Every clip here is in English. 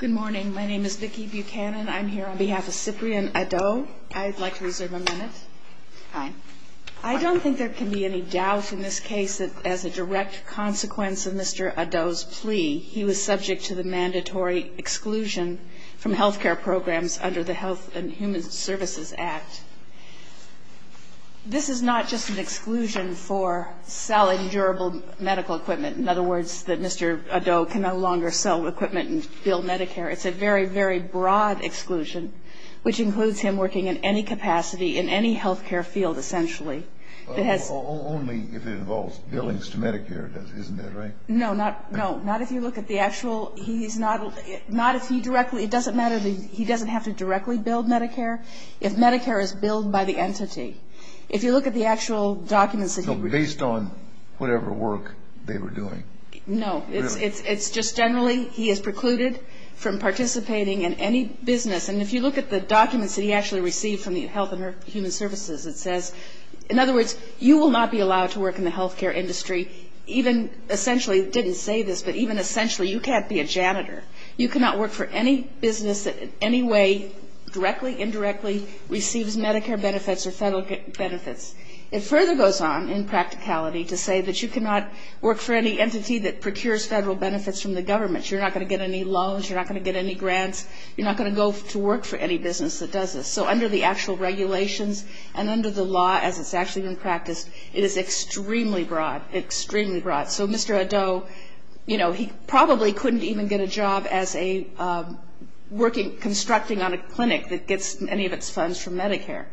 Good morning. My name is Vicki Buchanan. I'm here on behalf of Cyprian Adoh. I'd like to reserve a minute. Hi. I don't think there can be any doubt in this case that as a direct consequence of Mr. Adoh's plea, he was subject to the mandatory exclusion from health care programs under the Health and Human Services Act. This is not just an exclusion for selling durable medical equipment. In other words, that Mr. Adoh can no longer sell equipment and build Medicare. It's a very, very broad exclusion, which includes him working in any capacity in any health care field, essentially. Only if it involves billings to Medicare, isn't that right? No, not if you look at the actual – he's not – not if he directly – it doesn't matter – he doesn't have to directly build Medicare if Medicare is billed by the entity. If you look at the actual documents that he – Based on whatever work they were doing. No, it's just generally he is precluded from participating in any business. And if you look at the documents that he actually received from the Health and Human Services, it says – in other words, you will not be allowed to work in the health care industry, even – essentially, it didn't say this, but even essentially, you can't be a janitor. You cannot work for any business that in any way, directly, indirectly, receives Medicare benefits or federal benefits. It further goes on in practicality to say that you cannot work for any entity that procures federal benefits from the government. You're not going to get any loans. You're not going to get any grants. You're not going to go to work for any business that does this. So under the actual regulations and under the law, as it's actually been practiced, it is extremely broad, extremely broad. So Mr. Addo, you know, he probably couldn't even get a job as a working – constructing on a clinic that gets any of its funds from Medicare.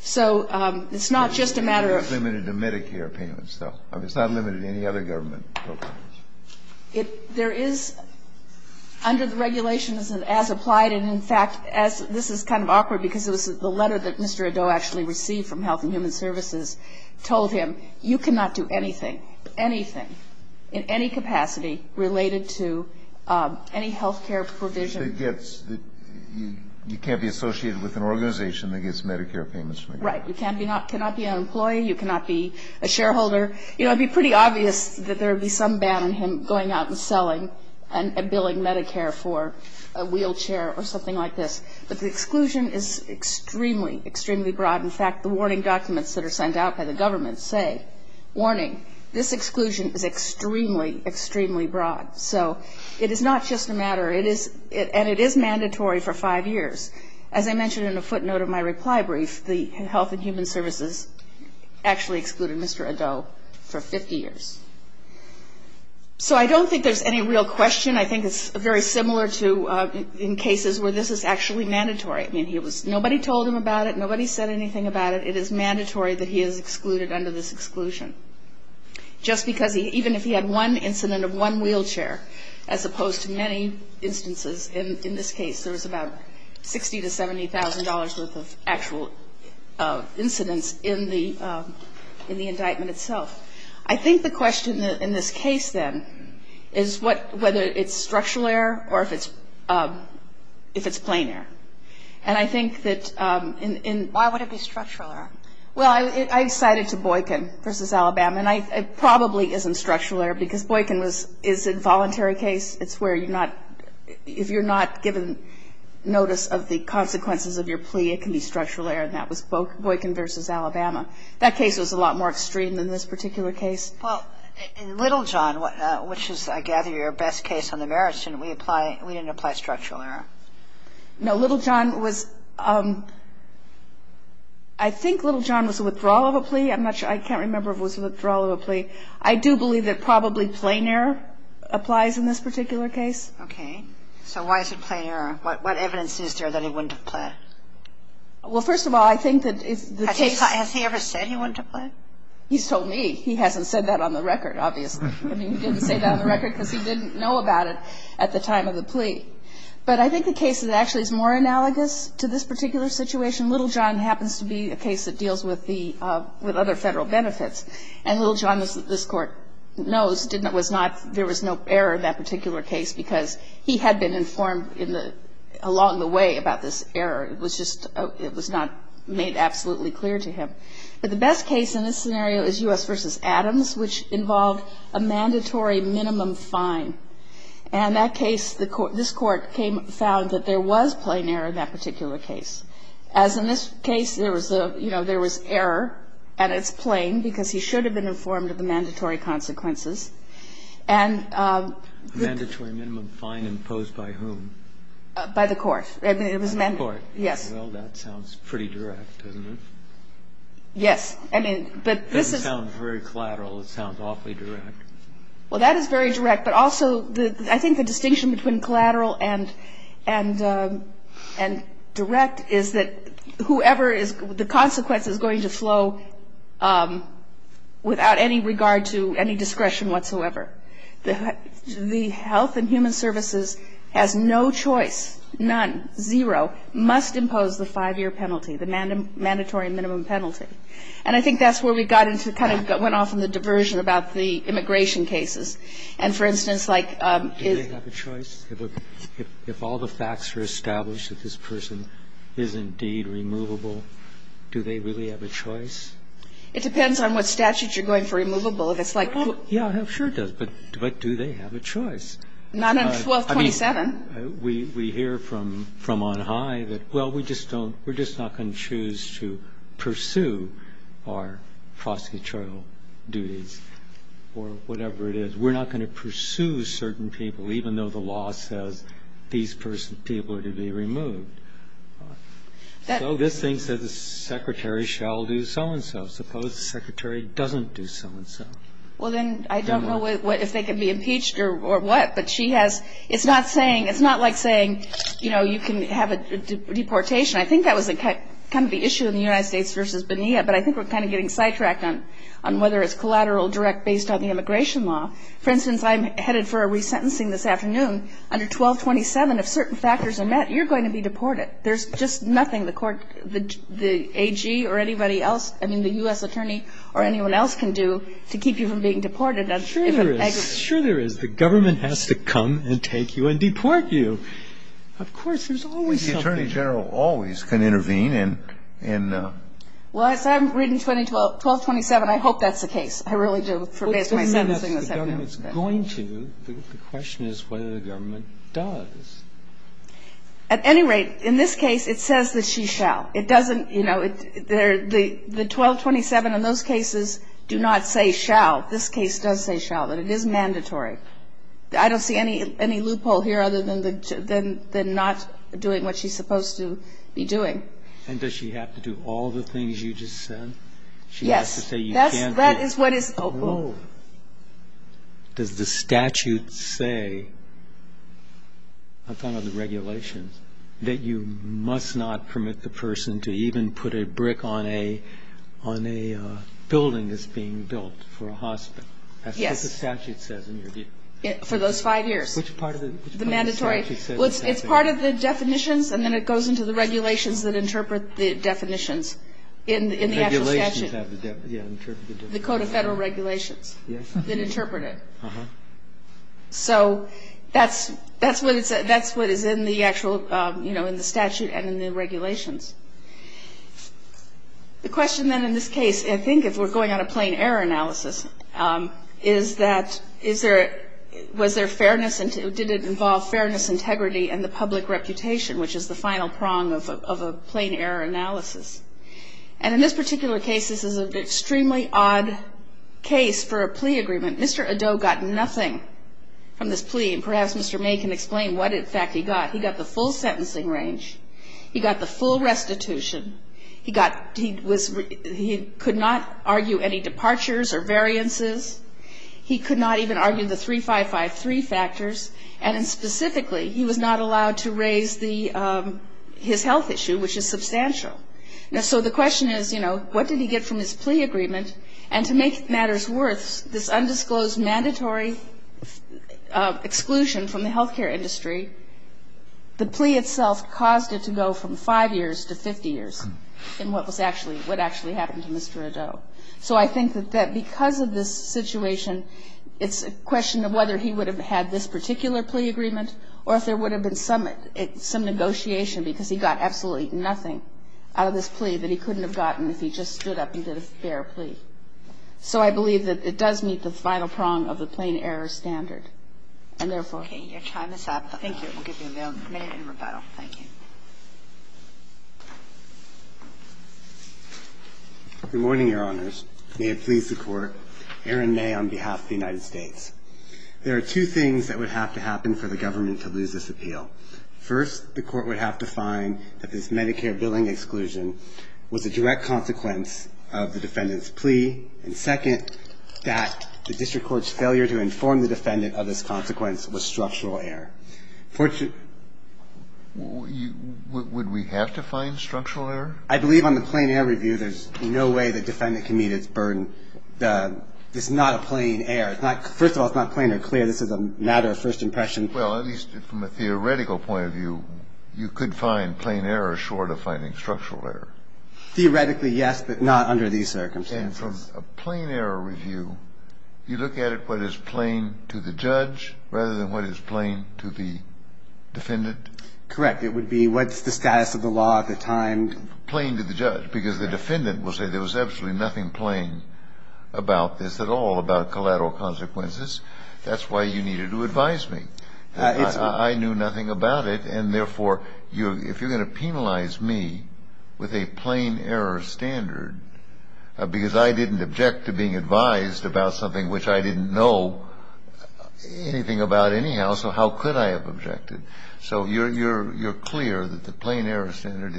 So it's not just a matter of – It's limited to Medicare payments, though. It's not limited to any other government programs. There is – under the regulations, as applied, and in fact, as – this is kind of awkward because it was the letter that Mr. Addo actually received from Health and Human Services told him, you cannot do anything, anything, in any capacity related to any health care provision. You can't be associated with an organization that gets Medicare payments from the government. Right. You cannot be an employee. You cannot be a shareholder. You know, it would be pretty obvious that there would be some ban on him going out and selling and billing Medicare for a wheelchair or something like this. But the exclusion is extremely, extremely broad. In fact, the warning documents that are sent out by the government say, warning, this exclusion is extremely, extremely broad. So it is not just a matter – and it is mandatory for five years. As I mentioned in a footnote of my reply brief, the Health and Human Services actually excluded Mr. Addo for 50 years. So I don't think there's any real question. I think it's very similar to in cases where this is actually mandatory. I mean, he was – nobody told him about it. Nobody said anything about it. It is mandatory that he is excluded under this exclusion. Just because he – even if he had one incident of one wheelchair, as opposed to many instances, in this case there was about $60,000 to $70,000 worth of actual incidents in the indictment itself. I think the question in this case, then, is whether it's structural error or if it's plain error. And I think that in – Why would it be structural error? Well, I cited to Boykin v. Alabama. And it probably isn't structural error because Boykin was – is a voluntary case. It's where you're not – if you're not given notice of the consequences of your plea, it can be structural error. And that was Boykin v. Alabama. That case was a lot more extreme than this particular case. Well, in Littlejohn, which is, I gather, your best case on the merits, didn't we apply – we didn't apply structural error? No. Littlejohn was – I think Littlejohn was a withdrawal of a plea. I'm not sure. I can't remember if it was a withdrawal of a plea. I do believe that probably plain error applies in this particular case. Okay. So why is it plain error? What evidence is there that he wouldn't have pled? Well, first of all, I think that the case – Has he ever said he wouldn't have pled? He's told me. He hasn't said that on the record, obviously. I mean, he didn't say that on the record because he didn't know about it at the time of the plea. But I think the case actually is more analogous to this particular situation. Littlejohn happens to be a case that deals with the – with other Federal benefits. And Littlejohn, as this Court knows, didn't – was not – there was no error in that particular case because he had been informed in the – along the way about this error. It was just – it was not made absolutely clear to him. But the best case in this scenario is U.S. v. Adams, which involved a mandatory minimum fine. And that case, the – this Court came – found that there was plain error in that particular case. As in this case, there was a – you know, there was error, and it's plain because he should have been informed of the mandatory consequences. And the – A mandatory minimum fine imposed by whom? By the Court. I mean, it was amended. By the Court. Yes. Well, that sounds pretty direct, doesn't it? Yes. I mean, but this is – It doesn't sound very collateral. It sounds awfully direct. Well, that is very direct. But also the – I think the distinction between collateral and direct is that whoever is – the consequence is going to flow without any regard to any discretion whatsoever. The Health and Human Services has no choice, none, zero, must impose the five-year penalty, the mandatory minimum penalty. And I think that's where we got into – kind of went off in the diversion about the immigration cases. And, for instance, like if – Do they have a choice? If all the facts are established that this person is indeed removable, do they really have a choice? It depends on what statutes you're going for removable. If it's like – Yeah, sure it does. But do they have a choice? Not on 1227. We hear from on high that, well, we just don't – we're just not going to choose to pursue our prosecutorial duties or whatever it is. We're not going to pursue certain people, even though the law says these people are to be removed. So this thing says the secretary shall do so-and-so. Suppose the secretary doesn't do so-and-so. Well, then I don't know if they can be impeached or what. But she has – it's not saying – it's not like saying, you know, you can have a deportation. I think that was kind of the issue in the United States v. Bonilla. But I think we're kind of getting sidetracked on whether it's collateral or direct based on the immigration law. For instance, I'm headed for a resentencing this afternoon. Under 1227, if certain factors are met, you're going to be deported. There's just nothing the court – the AG or anybody else – I mean, the U.S. attorney or anyone else can do to keep you from being deported. And the government, I don't know. Surely the government has to come and deport you. Of course, there's always something. The attorney general always can intervene and – Well, as I'm reading 1227, I hope that's the case. I really do forbear my sentencing this afternoon. The question is whether the government does. At any rate, in this case, it says that she shall. It doesn't – you know, the 1227 in those cases do not say shall. This case does say shall, but it is mandatory. I don't see any loophole here other than not doing what she's supposed to be doing. And does she have to do all the things you just said? Yes. She has to say you can't do – That is what is – oh. Does the statute say – I'm talking about the regulations – That you must not permit the person to even put a brick on a building that's being built for a hospital. Yes. That's what the statute says in your view. For those five years. Which part of the – The mandatory. Well, it's part of the definitions, and then it goes into the regulations that interpret the definitions in the actual statute. Regulations have the – yeah, interpret the definitions. The Code of Federal Regulations. Yes. That interpret it. Uh-huh. So that's what is in the actual – you know, in the statute and in the regulations. The question, then, in this case, I think if we're going on a plain error analysis, is that is there – was there fairness – did it involve fairness, integrity, and the public reputation, which is the final prong of a plain error analysis. And in this particular case, this is an extremely odd case for a plea agreement. Mr. Addo got nothing from this plea, and perhaps Mr. May can explain what, in fact, he got. He got the full sentencing range. He got the full restitution. He got – he was – he could not argue any departures or variances. He could not even argue the 3553 factors. And specifically, he was not allowed to raise the – his health issue, which is substantial. And so the question is, you know, what did he get from his plea agreement? And to make matters worse, this undisclosed mandatory exclusion from the health care industry, the plea itself caused it to go from five years to 50 years in what was actually – what actually happened to Mr. Addo. So I think that because of this situation, it's a question of whether he would have had this particular plea agreement or if there would have been some – some negotiation, because he got absolutely nothing out of this plea that he couldn't have gotten if he just stood up and did a fair plea. So I believe that it does meet the final prong of the plain error standard. And therefore – Okay. Your time is up. Thank you. We'll give you a minute in rebuttal. Thank you. Good morning, Your Honors. May it please the Court. Aaron May on behalf of the United States. There are two things that would have to happen for the government to lose this appeal. First, the Court would have to find that this Medicare billing exclusion was a direct consequence of the defendant's plea. And second, that the district court's failure to inform the defendant of this consequence was structural error. Would we have to find structural error? I believe on the plain error review, there's no way the defendant can meet its burden. This is not a plain error. First of all, it's not plain or clear. This is a matter of first impression. Well, at least from a theoretical point of view, you could find plain error short of finding structural error. Theoretically, yes, but not under these circumstances. And from a plain error review, you look at it what is plain to the judge rather than what is plain to the defendant? Correct. It would be what's the status of the law at the time. Plain to the judge, because the defendant will say there was absolutely nothing plain about this at all about collateral consequences. That's why you needed to advise me. I knew nothing about it. And, therefore, if you're going to penalize me with a plain error standard because I didn't object to being advised about something which I didn't know anything about anyhow, so how could I have objected? So you're clear that the plain error standard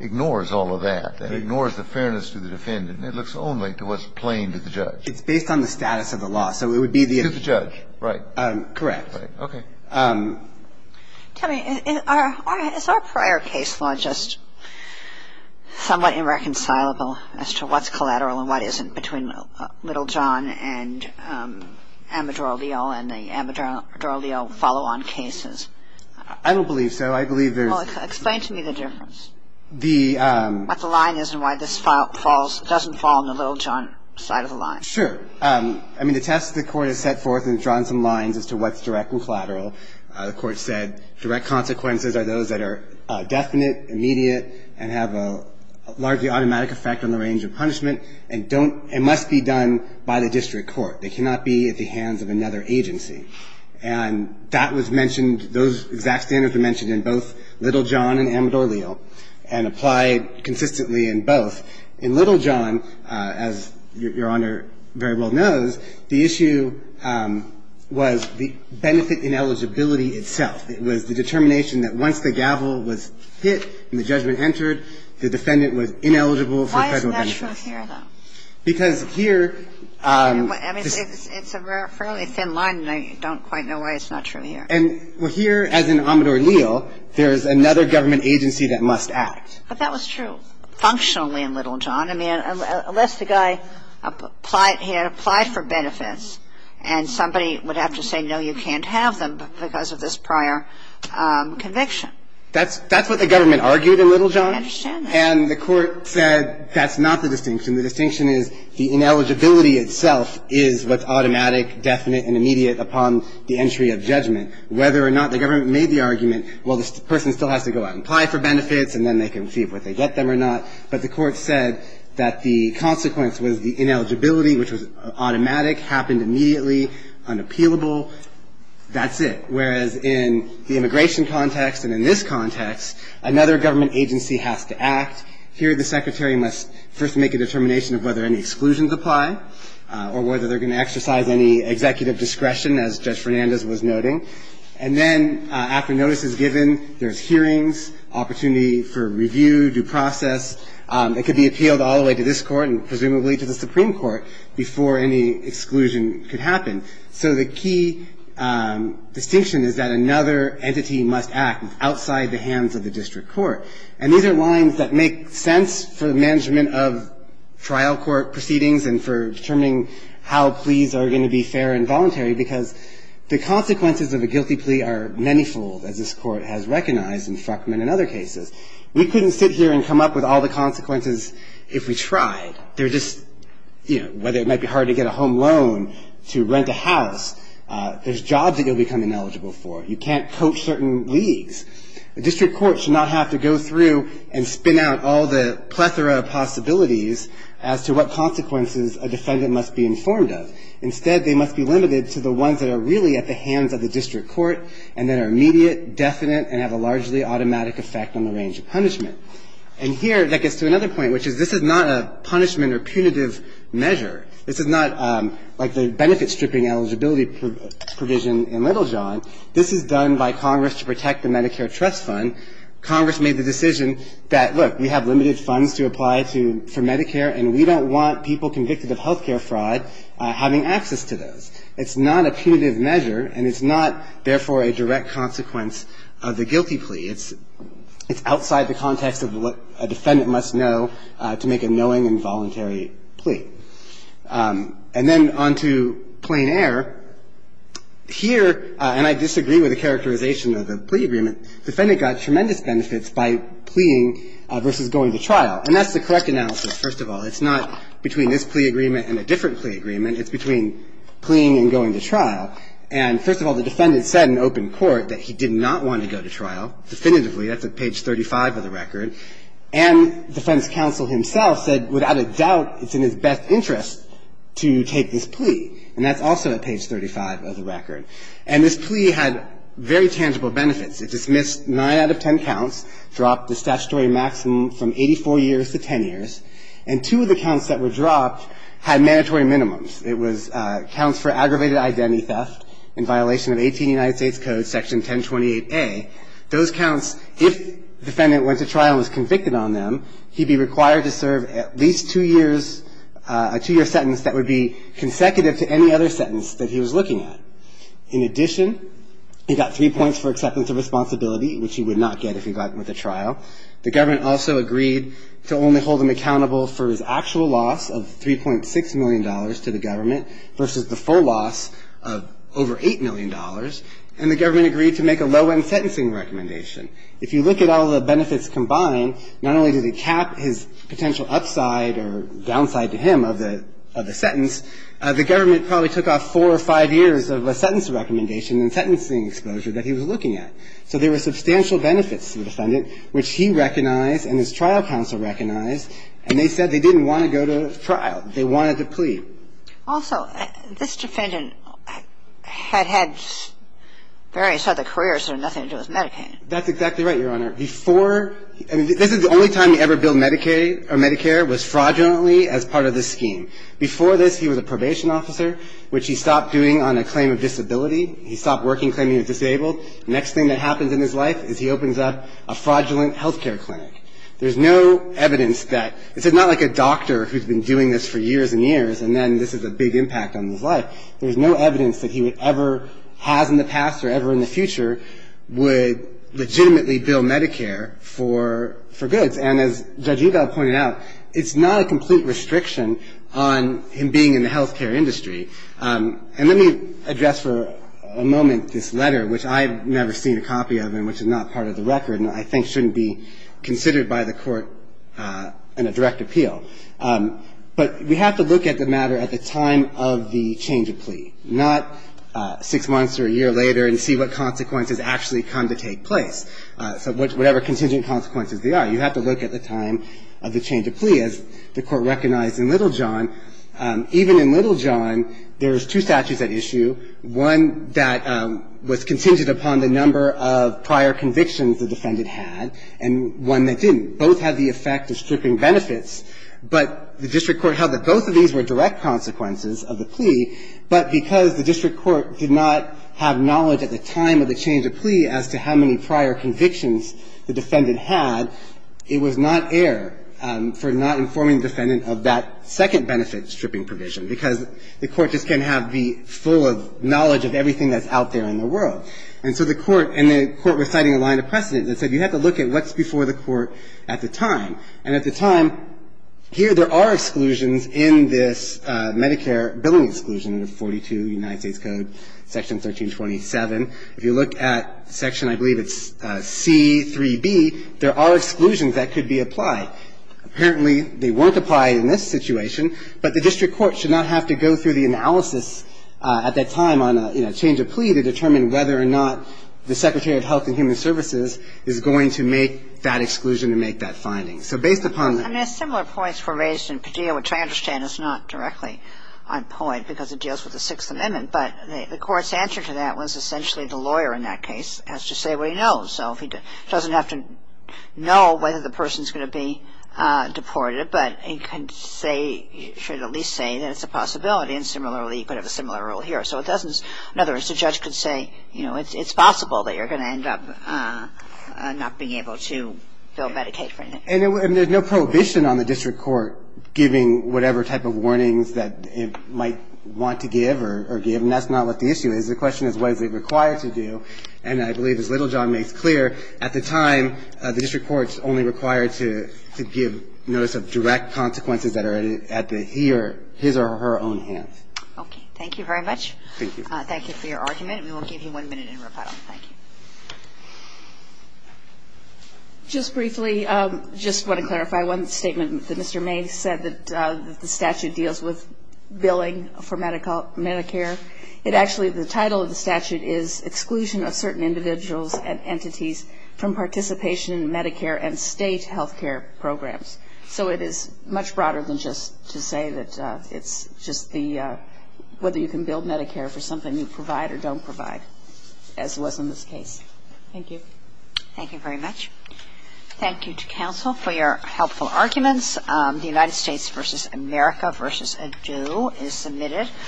ignores all of that. It ignores the fairness to the defendant and it looks only to what's plain to the judge. It's based on the status of the law. So it would be the – To the judge, right. Correct. Okay. Tell me, is our prior case law just somewhat irreconcilable as to what's collateral and what isn't between Littlejohn and Amador-Leo and the Amador-Leo follow-on cases? I don't believe so. I believe there's – Well, explain to me the difference. The – What the line is and why this doesn't fall on the Littlejohn side of the line. Sure. I mean, the test the Court has set forth has drawn some lines as to what's direct and collateral. The Court said direct consequences are those that are definite, immediate, and have a largely automatic effect on the range of punishment and don't – and must be done by the district court. They cannot be at the hands of another agency. And that was mentioned – those exact standards were mentioned in both Littlejohn and Amador-Leo and applied consistently in both. In Littlejohn, as Your Honor very well knows, the issue was the benefit ineligibility itself. It was the determination that once the gavel was hit and the judgment entered, the defendant was ineligible for federal benefit. Why isn't that true here, though? Because here – I mean, it's a fairly thin line, and I don't quite know why it's not true here. And here, as in Amador-Leo, there is another government agency that must act. But that was true. And that was true functionally in Littlejohn. I mean, unless the guy applied for benefits and somebody would have to say, no, you can't have them because of this prior conviction. That's what the government argued in Littlejohn. I understand that. And the Court said that's not the distinction. The distinction is the ineligibility itself is what's automatic, definite, and immediate upon the entry of judgment. Whether or not the government made the argument, well, the person still has to go out and apply for benefits, and then they can see if they get them or not. But the Court said that the consequence was the ineligibility, which was automatic, happened immediately, unappealable. That's it. Whereas in the immigration context and in this context, another government agency has to act. Here, the Secretary must first make a determination of whether any exclusions apply or whether they're going to exercise any executive discretion, as Judge Fernandez was noting. And then after notice is given, there's hearings, opportunity for review, due process. It could be appealed all the way to this Court and presumably to the Supreme Court before any exclusion could happen. So the key distinction is that another entity must act outside the hands of the district court. And these are lines that make sense for the management of trial court proceedings and for determining how pleas are going to be fair and voluntary, because the consequences of a guilty plea are manifold, as this Court has recognized in Frackman and other cases. We couldn't sit here and come up with all the consequences if we tried. They're just, you know, whether it might be hard to get a home loan, to rent a house, there's jobs that you'll become ineligible for. You can't coach certain leagues. A district court should not have to go through and spin out all the plethora of possibilities as to what consequences a defendant must be informed of. Instead, they must be limited to the ones that are really at the hands of the district court and that are immediate, definite, and have a largely automatic effect on the range of punishment. And here, that gets to another point, which is this is not a punishment or punitive measure. This is not like the benefit-stripping eligibility provision in Littlejohn. This is done by Congress to protect the Medicare trust fund. Congress made the decision that, look, we have limited funds to apply for Medicare and we don't want people convicted of health care fraud having access to those. It's not a punitive measure, and it's not, therefore, a direct consequence of the guilty plea. It's outside the context of what a defendant must know to make a knowing and voluntary plea. And then on to plain error. Here, and I disagree with the characterization of the plea agreement, the defendant got tremendous benefits by pleaing versus going to trial. And that's the correct analysis, first of all. It's not between this plea agreement and a different plea agreement. It's between pleaing and going to trial. And, first of all, the defendant said in open court that he did not want to go to trial, definitively. That's at page 35 of the record. And defense counsel himself said, without a doubt, it's in his best interest to take this plea. And that's also at page 35 of the record. And this plea had very tangible benefits. It dismissed nine out of ten counts, dropped the statutory maximum from 84 years to 10 years. And two of the counts that were dropped had mandatory minimums. It was counts for aggravated identity theft in violation of 18 United States Code Section 1028a. Those counts, if the defendant went to trial and was convicted on them, he'd be required to serve at least two years, a two-year sentence that would be consecutive to any other sentence that he was looking at. In addition, he got three points for acceptance of responsibility, which he would not get if he got with a trial. The government also agreed to only hold him accountable for his actual loss of $3.6 million to the government versus the full loss of over $8 million. And the government agreed to make a low-end sentencing recommendation. If you look at all the benefits combined, not only did it cap his potential upside or downside to him of the sentence, the government probably took off four or five years of a sentence recommendation and sentencing exposure that he was looking at. So there were substantial benefits to the defendant, which he recognized and his trial counsel recognized, and they said they didn't want to go to trial. They wanted to plead. Also, this defendant had had various other careers that had nothing to do with Medicaid. That's exactly right, Your Honor. Before he – I mean, this is the only time he ever billed Medicaid or Medicare was fraudulently as part of this scheme. Before this, he was a probation officer, which he stopped doing on a claim of disability. He stopped working claiming he was disabled. The next thing that happens in his life is he opens up a fraudulent health care clinic. There's no evidence that – this is not like a doctor who's been doing this for years and years and then this is a big impact on his life. There's no evidence that he would ever – has in the past or ever in the future would legitimately bill Medicare for goods. And as Judge Udall pointed out, it's not a complete restriction on him being in the health care industry. And let me address for a moment this letter, which I've never seen a copy of and which is not part of the record and I think shouldn't be considered by the Court in a direct appeal. But we have to look at the matter at the time of the change of plea, not six months or a year later and see what consequences actually come to take place. So whatever contingent consequences there are. You have to look at the time of the change of plea, as the Court recognized in Littlejohn. Even in Littlejohn, there's two statutes at issue, one that was contingent upon the number of prior convictions the defendant had and one that didn't. Both had the effect of stripping benefits, but the district court held that both of these were direct consequences of the plea, but because the district court did not have knowledge at the time of the change of plea as to how many prior convictions the defendant had, it was not air for not informing the defendant of that second benefit stripping provision because the Court just can't have the full knowledge of everything that's out there in the world. And so the Court was citing a line of precedent that said you have to look at what's before the Court at the time. And at the time, here there are exclusions in this Medicare billing exclusion, 42 United States Code, Section 1327. If you look at Section, I believe it's C-3b, there are exclusions that could be applied. Apparently, they weren't applied in this situation, but the district court should not have to go through the analysis at that time on a change of plea to determine whether or not the Secretary of Health and Human Services is going to make that exclusion to make that finding. So based upon the ---- I mean, similar points were raised in Padilla, which I understand is not directly on point because it deals with the Sixth Amendment. But the Court's answer to that was essentially the lawyer in that case has to say what he knows. So he doesn't have to know whether the person is going to be deported, but he can say, should at least say that it's a possibility. And similarly, you could have a similar rule here. So it doesn't ---- in other words, the judge could say, you know, it's possible that you're going to end up not being able to bill Medicaid. And there's no prohibition on the district court giving whatever type of warnings that it might want to give or give. And that's not what the issue is. The question is, what is it required to do? And I believe, as Littlejohn makes clear, at the time the district court's only required to give notice of direct consequences that are at the he or his or her own hands. Okay. Thank you very much. Thank you. Thank you for your argument. And we will give you one minute in rebuttal. Thank you. Just briefly, just want to clarify one statement that Mr. May said, that the statute deals with billing for Medicare. It actually ---- the title of the statute is Exclusion of Certain Individuals and Entities from Participation in Medicare and State Healthcare Programs. So it is much broader than just to say that it's just the ---- whether you can bill Medicare for something you provide or don't provide, as was in this case. Thank you. Thank you very much. Thank you to counsel for your helpful arguments. The United States v. America v. Ado is submitted.